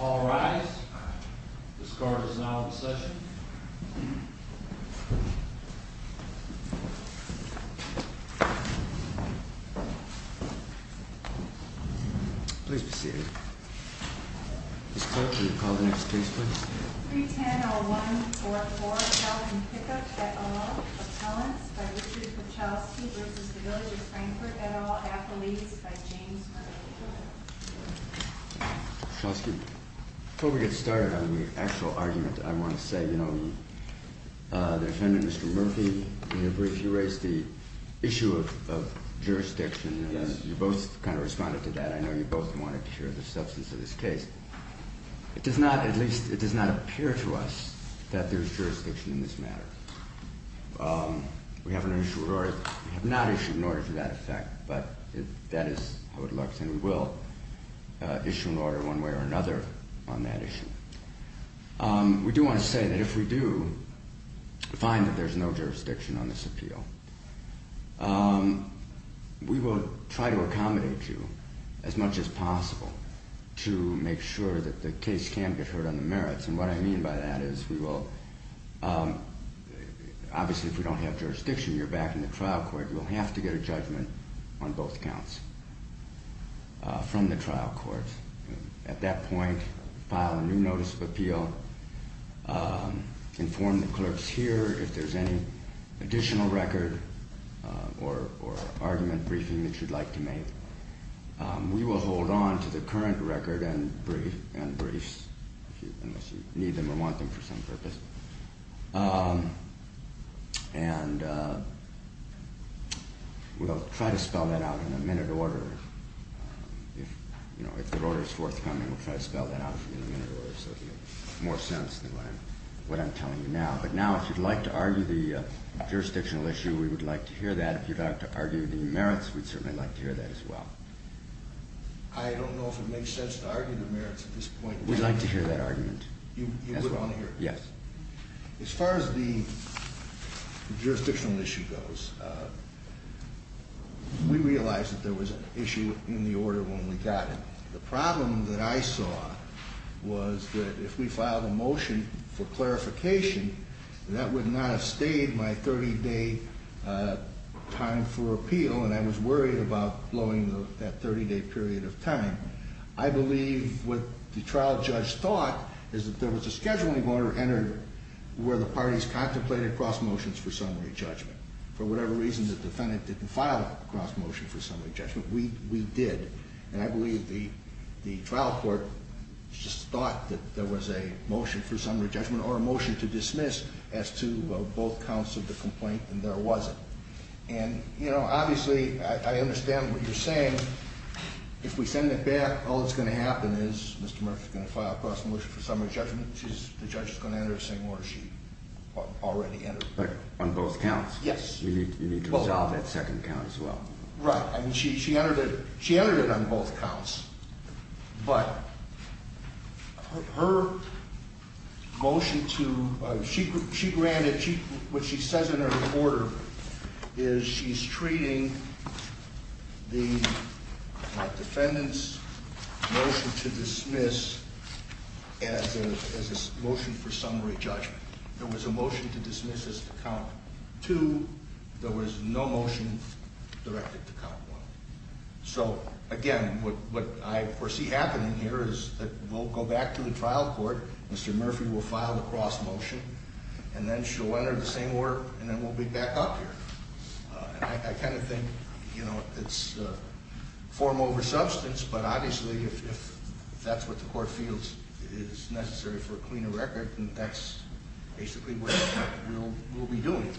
All rise. Ms. Carter is now in session. Please be seated. Ms. Clark, will you call the next case, please? 310-0144, Falcon Pickup, et al., Appellants, by Richard Kuchelski v. The Village of Frankfort, et al., Athletes, by James Kirk. Mr. Kuchelski, before we get started on the actual argument, I want to say, you know, the defendant, Mr. Murphy, in your brief, you raised the issue of jurisdiction. Yes. You both kind of responded to that. I know you both wanted to share the substance of this case. It does not, at least, it does not appear to us that there is jurisdiction in this matter. We have not issued an order to that effect, but that is how it looks, and we will issue an order one way or another on that issue. We do want to say that if we do find that there is no jurisdiction on this appeal, we will try to accommodate you as much as possible to make sure that the case can get heard on the merits. And what I mean by that is we will, obviously, if we don't have jurisdiction, you're back in the trial court. You'll have to get a judgment on both counts from the trial court. At that point, file a new notice of appeal, inform the clerks here if there's any additional record or argument briefing that you'd like to make. We will hold on to the current record and briefs, unless you need them or want them for some purpose, and we'll try to spell that out in a minute order. If, you know, if the order is forthcoming, we'll try to spell that out for you in a minute order so it will make more sense than what I'm telling you now. But now, if you'd like to argue the jurisdictional issue, we would like to hear that. If you'd like to argue the merits, we'd certainly like to hear that as well. I don't know if it makes sense to argue the merits at this point. We'd like to hear that argument as well. You would want to hear it? Yes. As far as the jurisdictional issue goes, we realize that there was an issue in the order when we got it. The problem that I saw was that if we filed a motion for clarification, that would not have stayed my 30-day time for appeal, and I was worried about blowing that 30-day period of time. I believe what the trial judge thought is that there was a scheduling order entered where the parties contemplated cross motions for summary judgment. For whatever reason, the defendant didn't file a cross motion for summary judgment. We did, and I believe the trial court just thought that there was a motion for summary judgment or a motion to dismiss as to both counts of the complaint, and there wasn't. Obviously, I understand what you're saying. If we send it back, all that's going to happen is Mr. Murphy's going to file a cross motion for summary judgment. The judge is going to enter the same order she already entered. On both counts? Yes. You need to resolve that second count as well. Right. She entered it on both counts, but her motion to, she granted, what she says in her order is she's treating the defendant's motion to dismiss as a motion for summary judgment. There was a motion to dismiss as to count two. There was no motion directed to count one. So, again, what I foresee happening here is that we'll go back to the trial court. Mr. Murphy will file the cross motion, and then she'll enter the same order, and then we'll be back up here. I kind of think it's form over substance, but obviously, if that's what the court feels is necessary for a cleaner record, then that's basically what we'll be doing.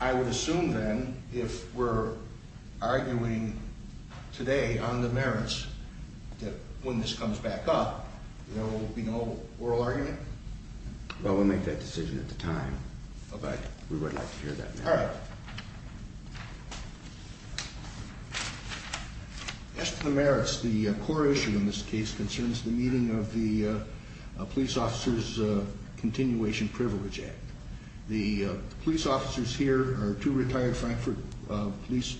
I would assume, then, if we're arguing today on the merits, that when this comes back up, there will be no oral argument? Well, we'll make that decision at the time, but we would like to hear that now. All right. As to the merits, the core issue in this case concerns the meeting of the Police Officers Continuation Privilege Act. The police officers here are two retired Frankfurt police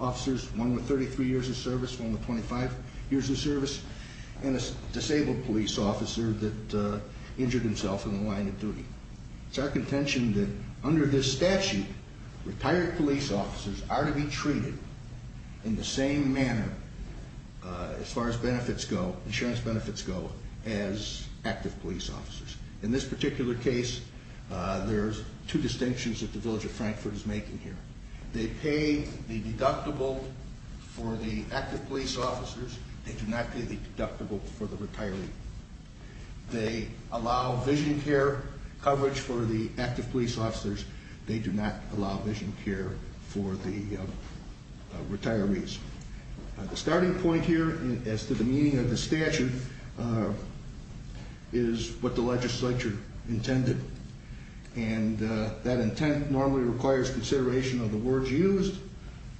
officers, one with 33 years of service, one with 25 years of service, and a disabled police officer that injured himself in the line of duty. It's our contention that under this statute, retired police officers are to be treated in the same manner, as far as benefits go, insurance benefits go, as active police officers. In this particular case, there's two distinctions that the village of Frankfurt is making here. They pay the deductible for the active police officers. They do not pay the deductible for the retiree. They allow vision care coverage for the active police officers. They do not allow vision care for the retirees. The starting point here, as to the meaning of the statute, is what the legislature intended. And that intent normally requires consideration of the words used,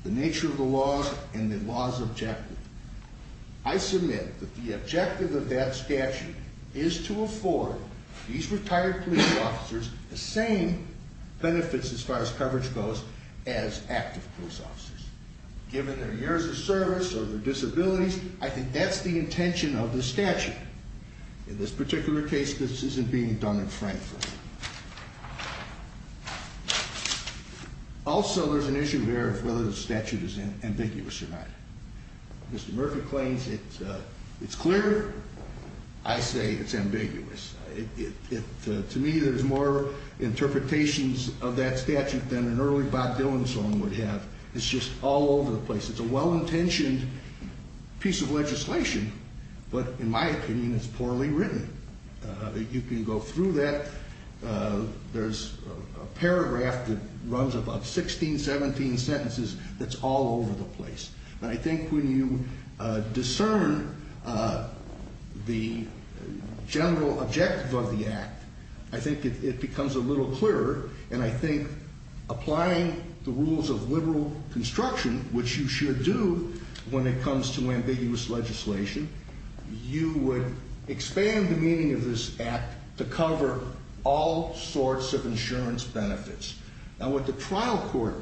the nature of the laws, and the law's objective. I submit that the objective of that statute is to afford these retired police officers the same benefits, as far as coverage goes, as active police officers. Given their years of service or their disabilities, I think that's the intention of the statute. In this particular case, this isn't being done in Frankfurt. Also, there's an issue there of whether the statute is ambiguous or not. Mr. Murphy claims it's clear. I say it's ambiguous. To me, there's more interpretations of that statute than an early Bob Dillon song would have. It's just all over the place. It's a well-intentioned piece of legislation, but in my opinion, it's poorly written. You can go through that. There's a paragraph that runs about 16, 17 sentences that's all over the place. And I think when you discern the general objective of the act, I think it becomes a little clearer. And I think applying the rules of liberal construction, which you should do when it comes to ambiguous legislation, you would expand the meaning of this act to cover all sorts of insurance benefits. Now, what the trial court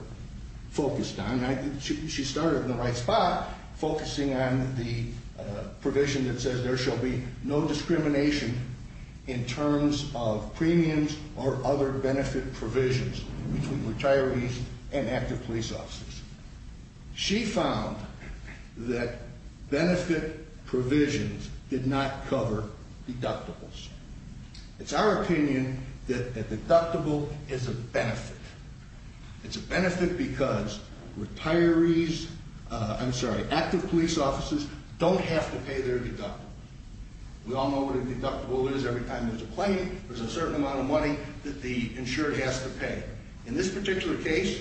focused on, she started in the right spot, focusing on the provision that says there shall be no discrimination in terms of premiums or other benefit provisions between retirees and active police officers. She found that benefit provisions did not cover deductibles. It's our opinion that a deductible is a benefit. It's a benefit because active police officers don't have to pay their deductible. We all know what a deductible is. Every time there's a claim, there's a certain amount of money that the insurer has to pay. In this particular case,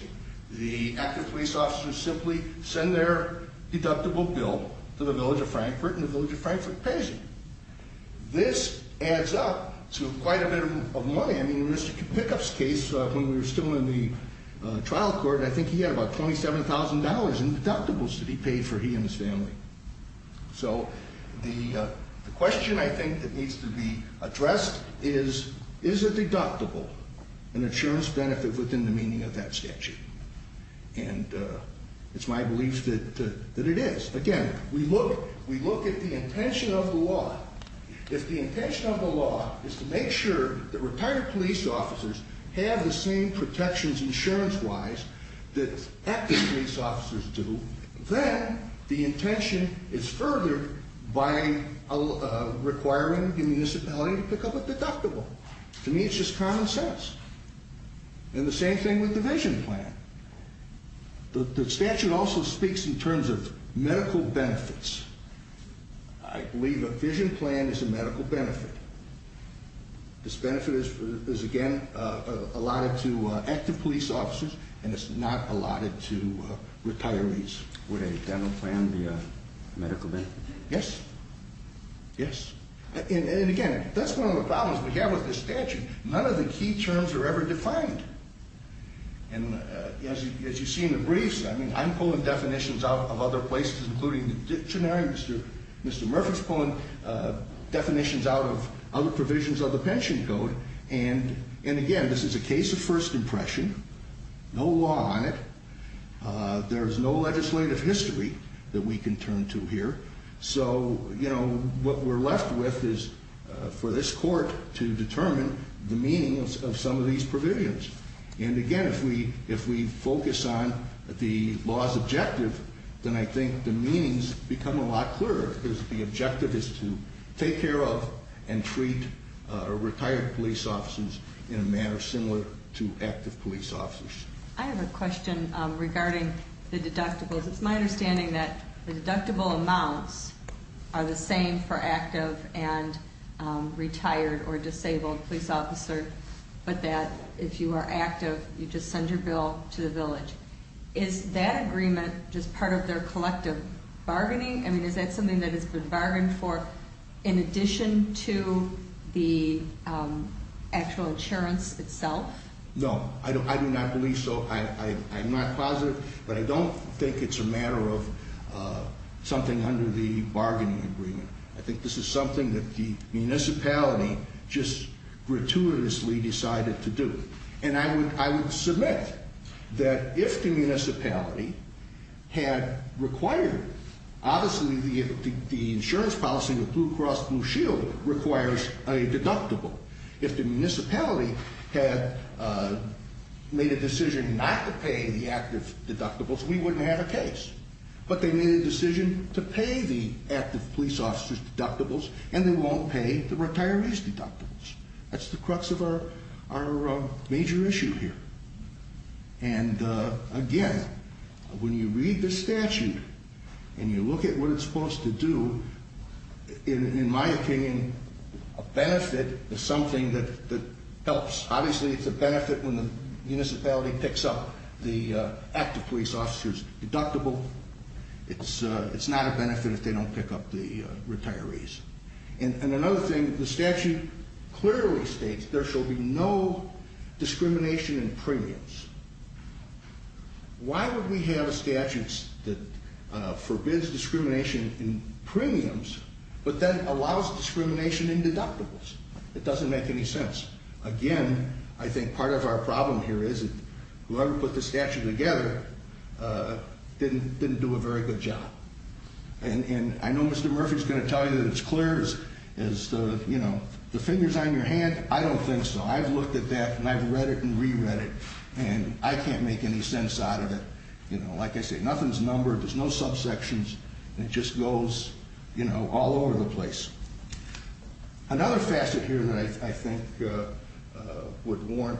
the active police officers simply send their deductible bill to the village of Frankfort, and the village of Frankfort pays it. This adds up to quite a bit of money. I mean, in Mr. Pickup's case, when we were still in the trial court, I think he had about $27,000 in deductibles to be paid for he and his family. So the question, I think, that needs to be addressed is, is a deductible an insurance benefit within the meaning of that statute? And it's my belief that it is. Again, we look at the intention of the law. If the intention of the law is to make sure that retired police officers have the same protections insurance-wise that active police officers do, then the intention is further by requiring the municipality to pick up a deductible. To me, it's just common sense. And the same thing with the vision plan. The statute also speaks in terms of medical benefits. I believe a vision plan is a medical benefit. This benefit is, again, allotted to active police officers, and it's not allotted to retirees. Would a dental plan be a medical benefit? Yes. Yes. And again, that's one of the problems we have with this statute. None of the key terms are ever defined. And as you see in the briefs, I'm pulling definitions out of other places, including the dictionary. Mr. Murphy's pulling definitions out of other provisions of the pension code. And, again, this is a case of first impression. No law on it. There is no legislative history that we can turn to here. So, you know, what we're left with is for this court to determine the meanings of some of these provisions. And, again, if we focus on the law's objective, then I think the meanings become a lot clearer because the objective is to take care of and treat retired police officers in a manner similar to active police officers. I have a question regarding the deductibles. It's my understanding that the deductible amounts are the same for active and retired or disabled police officers, but that if you are active, you just send your bill to the village. Is that agreement just part of their collective bargaining? I mean, is that something that has been bargained for in addition to the actual insurance itself? No, I do not believe so. I'm not positive, but I don't think it's a matter of something under the bargaining agreement. I think this is something that the municipality just gratuitously decided to do. And I would submit that if the municipality had required, obviously, the insurance policy of Blue Cross Blue Shield requires a deductible. If the municipality had made a decision not to pay the active deductibles, we wouldn't have a case. But they made a decision to pay the active police officers' deductibles, and they won't pay the retirees' deductibles. That's the crux of our major issue here. And again, when you read the statute and you look at what it's supposed to do, in my opinion, a benefit is something that helps. Obviously, it's a benefit when the municipality picks up the active police officers' deductible. It's not a benefit if they don't pick up the retirees'. And another thing, the statute clearly states there shall be no discrimination in premiums. Why would we have a statute that forbids discrimination in premiums but then allows discrimination in deductibles? It doesn't make any sense. Again, I think part of our problem here is that whoever put the statute together didn't do a very good job. And I know Mr. Murphy's going to tell you that it's clear as the fingers on your hand. I don't think so. I've looked at that, and I've read it and reread it, and I can't make any sense out of it. Like I say, nothing's numbered. There's no subsections. It just goes all over the place. Another facet here that I think would warrant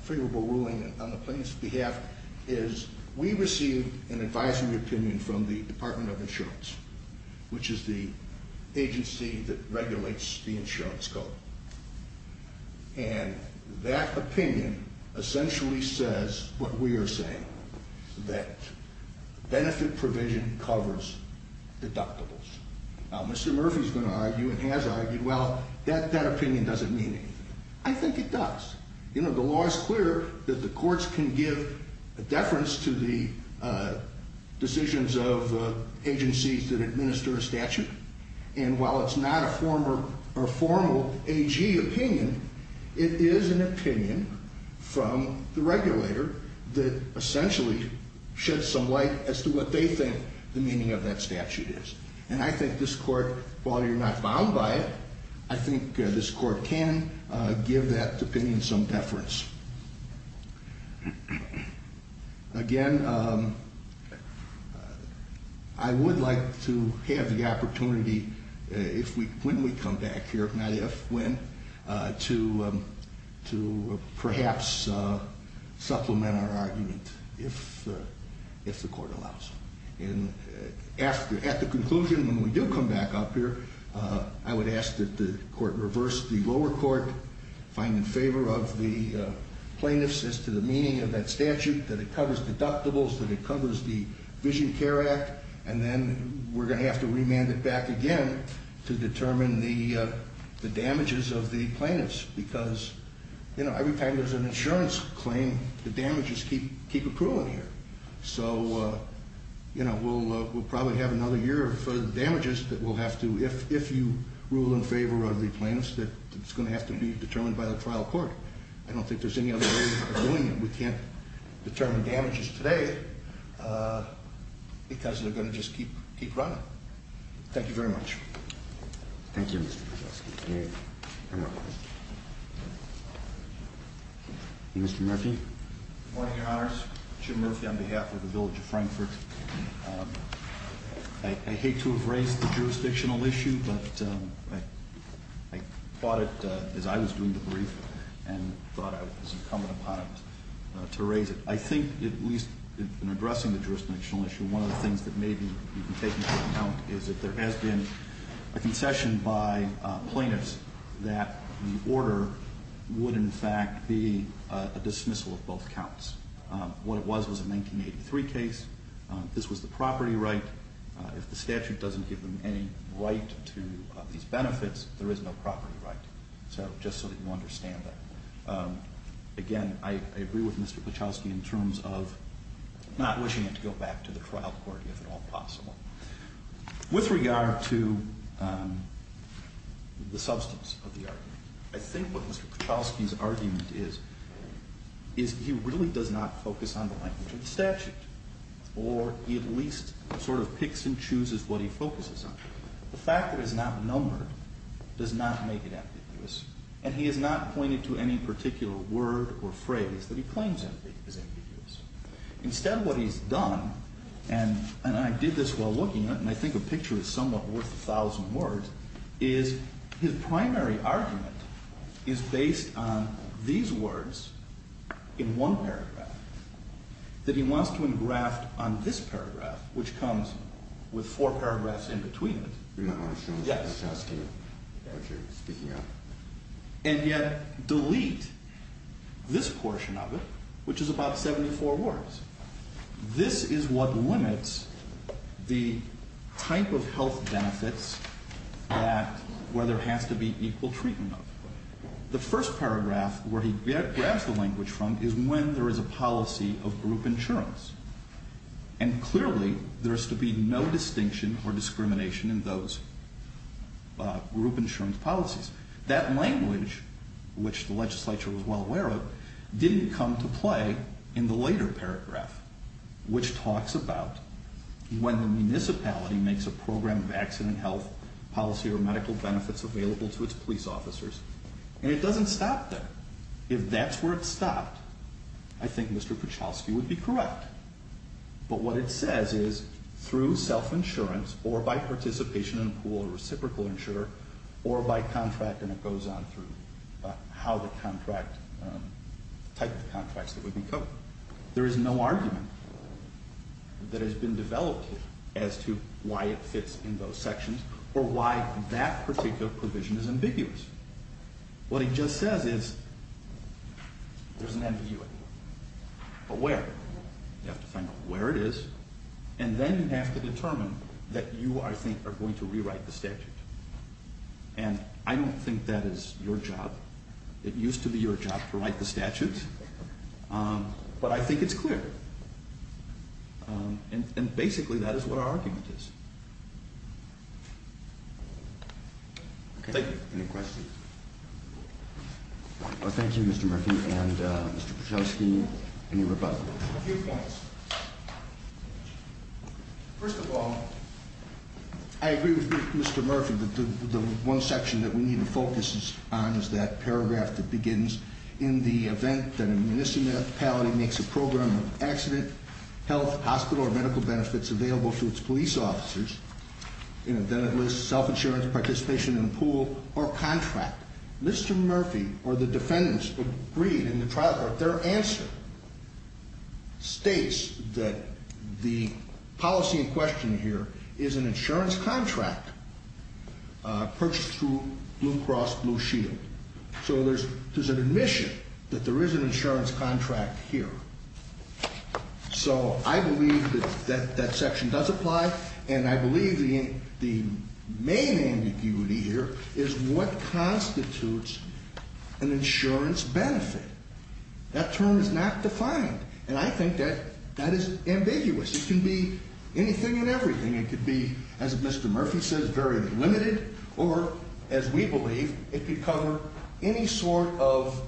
favorable ruling on the plaintiff's behalf is we received an advisory opinion from the Department of Insurance, which is the agency that regulates the insurance code. And that opinion essentially says what we are saying, that benefit provision covers deductibles. Now, Mr. Murphy's going to argue and has argued, well, that opinion doesn't mean anything. I think it does. You know, the law is clear that the courts can give a deference to the decisions of agencies that administer a statute. And while it's not a formal AG opinion, it is an opinion from the regulator that essentially sheds some light as to what they think the meaning of that statute is. And I think this court, while you're not bound by it, I think this court can give that opinion some deference. Again, I would like to have the opportunity when we come back here, if not if, when, to perhaps supplement our argument if the court allows. At the conclusion, when we do come back up here, I would ask that the court reverse the lower court, find in favor of the plaintiffs as to the meaning of that statute, that it covers deductibles, that it covers the Vision Care Act, and then we're going to have to remand it back again to determine the damages of the plaintiffs. Because, you know, every time there's an insurance claim, the damages keep accruing here. So, you know, we'll probably have another year of damages that we'll have to, if you rule in favor of the plaintiffs, that it's going to have to be determined by the trial court. I don't think there's any other way of doing it. We can't determine damages today because they're going to just keep running. Thank you very much. Thank you, Mr. Podolsky. Mr. Murphy? Good morning, Your Honors. Jim Murphy on behalf of the Village of Frankfurt. I hate to have raised the jurisdictional issue, but I thought it, as I was doing the brief, and thought it was incumbent upon it to raise it. I think, at least in addressing the jurisdictional issue, one of the things that may be taken into account is that there has been a concession by plaintiffs that the order would, in fact, be a dismissal of both counts. What it was was a 1983 case. This was the property right. If the statute doesn't give them any right to these benefits, there is no property right. So, just so that you understand that. Again, I agree with Mr. Podolsky in terms of not wishing it to go back to the trial court, if at all possible. With regard to the substance of the argument, I think what Mr. Podolsky's argument is, is he really does not focus on the language of the statute. Or, he at least sort of picks and chooses what he focuses on. The fact that it's not numbered does not make it ambiguous. And he has not pointed to any particular word or phrase that he claims is ambiguous. Instead, what he's done, and I did this while looking at it, and I think a picture is somewhat worth a thousand words, is his primary argument is based on these words in one paragraph. That he wants to engraft on this paragraph, which comes with four paragraphs in between it. And yet, delete this portion of it, which is about 74 words. This is what limits the type of health benefits that, where there has to be equal treatment of. The first paragraph, where he grabs the language from, is when there is a policy of group insurance. And clearly, there is to be no distinction or discrimination in those group insurance policies. That language, which the legislature was well aware of, didn't come to play in the later paragraph. Which talks about when the municipality makes a program of accident health policy or medical benefits available to its police officers. And it doesn't stop there. If that's where it stopped, I think Mr. Kuchelski would be correct. But what it says is, through self-insurance, or by participation in pool or reciprocal insurer, or by contract, and it goes on through how the contract, type of contracts that would be covered. There is no argument that has been developed as to why it fits in those sections, or why that particular provision is ambiguous. What he just says is, there's an ambiguity. But where? You have to find out where it is. And then you have to determine that you, I think, are going to rewrite the statute. And I don't think that is your job. It used to be your job to write the statutes. But I think it's clear. And basically, that is what our argument is. Thank you. Any questions? Thank you, Mr. Murphy. And Mr. Kuchelski, any rebuttals? A few points. First of all, I agree with Mr. Murphy that the one section that we need to focus on is that paragraph that begins, in the event that a municipality makes a program of accident, health, hospital, or medical benefits available to its police officers, then it lists self-insurance, participation in a pool, or contract. Mr. Murphy, or the defendants, agreed in the trial court, their answer states that the policy in question here is an insurance contract purchased through Blue Cross Blue Shield. So there's an admission that there is an insurance contract here. So I believe that that section does apply. And I believe the main ambiguity here is what constitutes an insurance benefit. That term is not defined. And I think that that is ambiguous. It can be anything and everything. It could be, as Mr. Murphy says, very limited. Or, as we believe, it could cover any sort of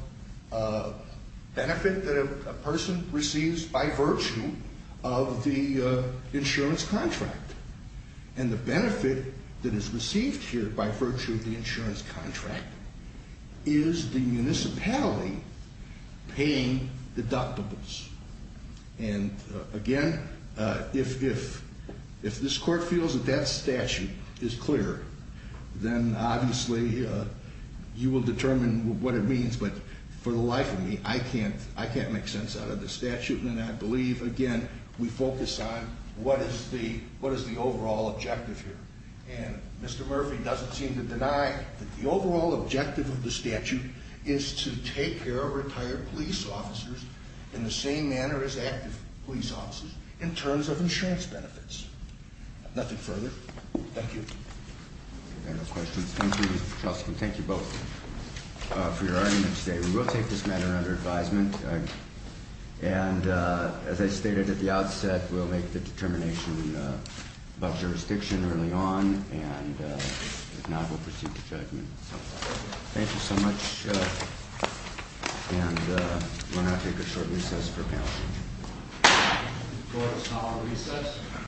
benefit that a person receives by virtue of the insurance contract. And the benefit that is received here by virtue of the insurance contract is the municipality paying deductibles. And, again, if this court feels that that statute is clear, then obviously you will determine what it means. But for the life of me, I can't make sense out of the statute. And I believe, again, we focus on what is the overall objective here. And Mr. Murphy doesn't seem to deny that the overall objective of the statute is to take care of retired police officers in the same manner as active police officers in terms of insurance benefits. Nothing further. Thank you. No questions. Thank you, Mr. Chaucer. And thank you both for your arguments today. We will take this matter under advisement. And, as I stated at the outset, we'll make the determination about jurisdiction early on. And, if not, we'll proceed to judgment. Thank you so much. And we're going to take a short recess for panel discussion. Court is now on recess.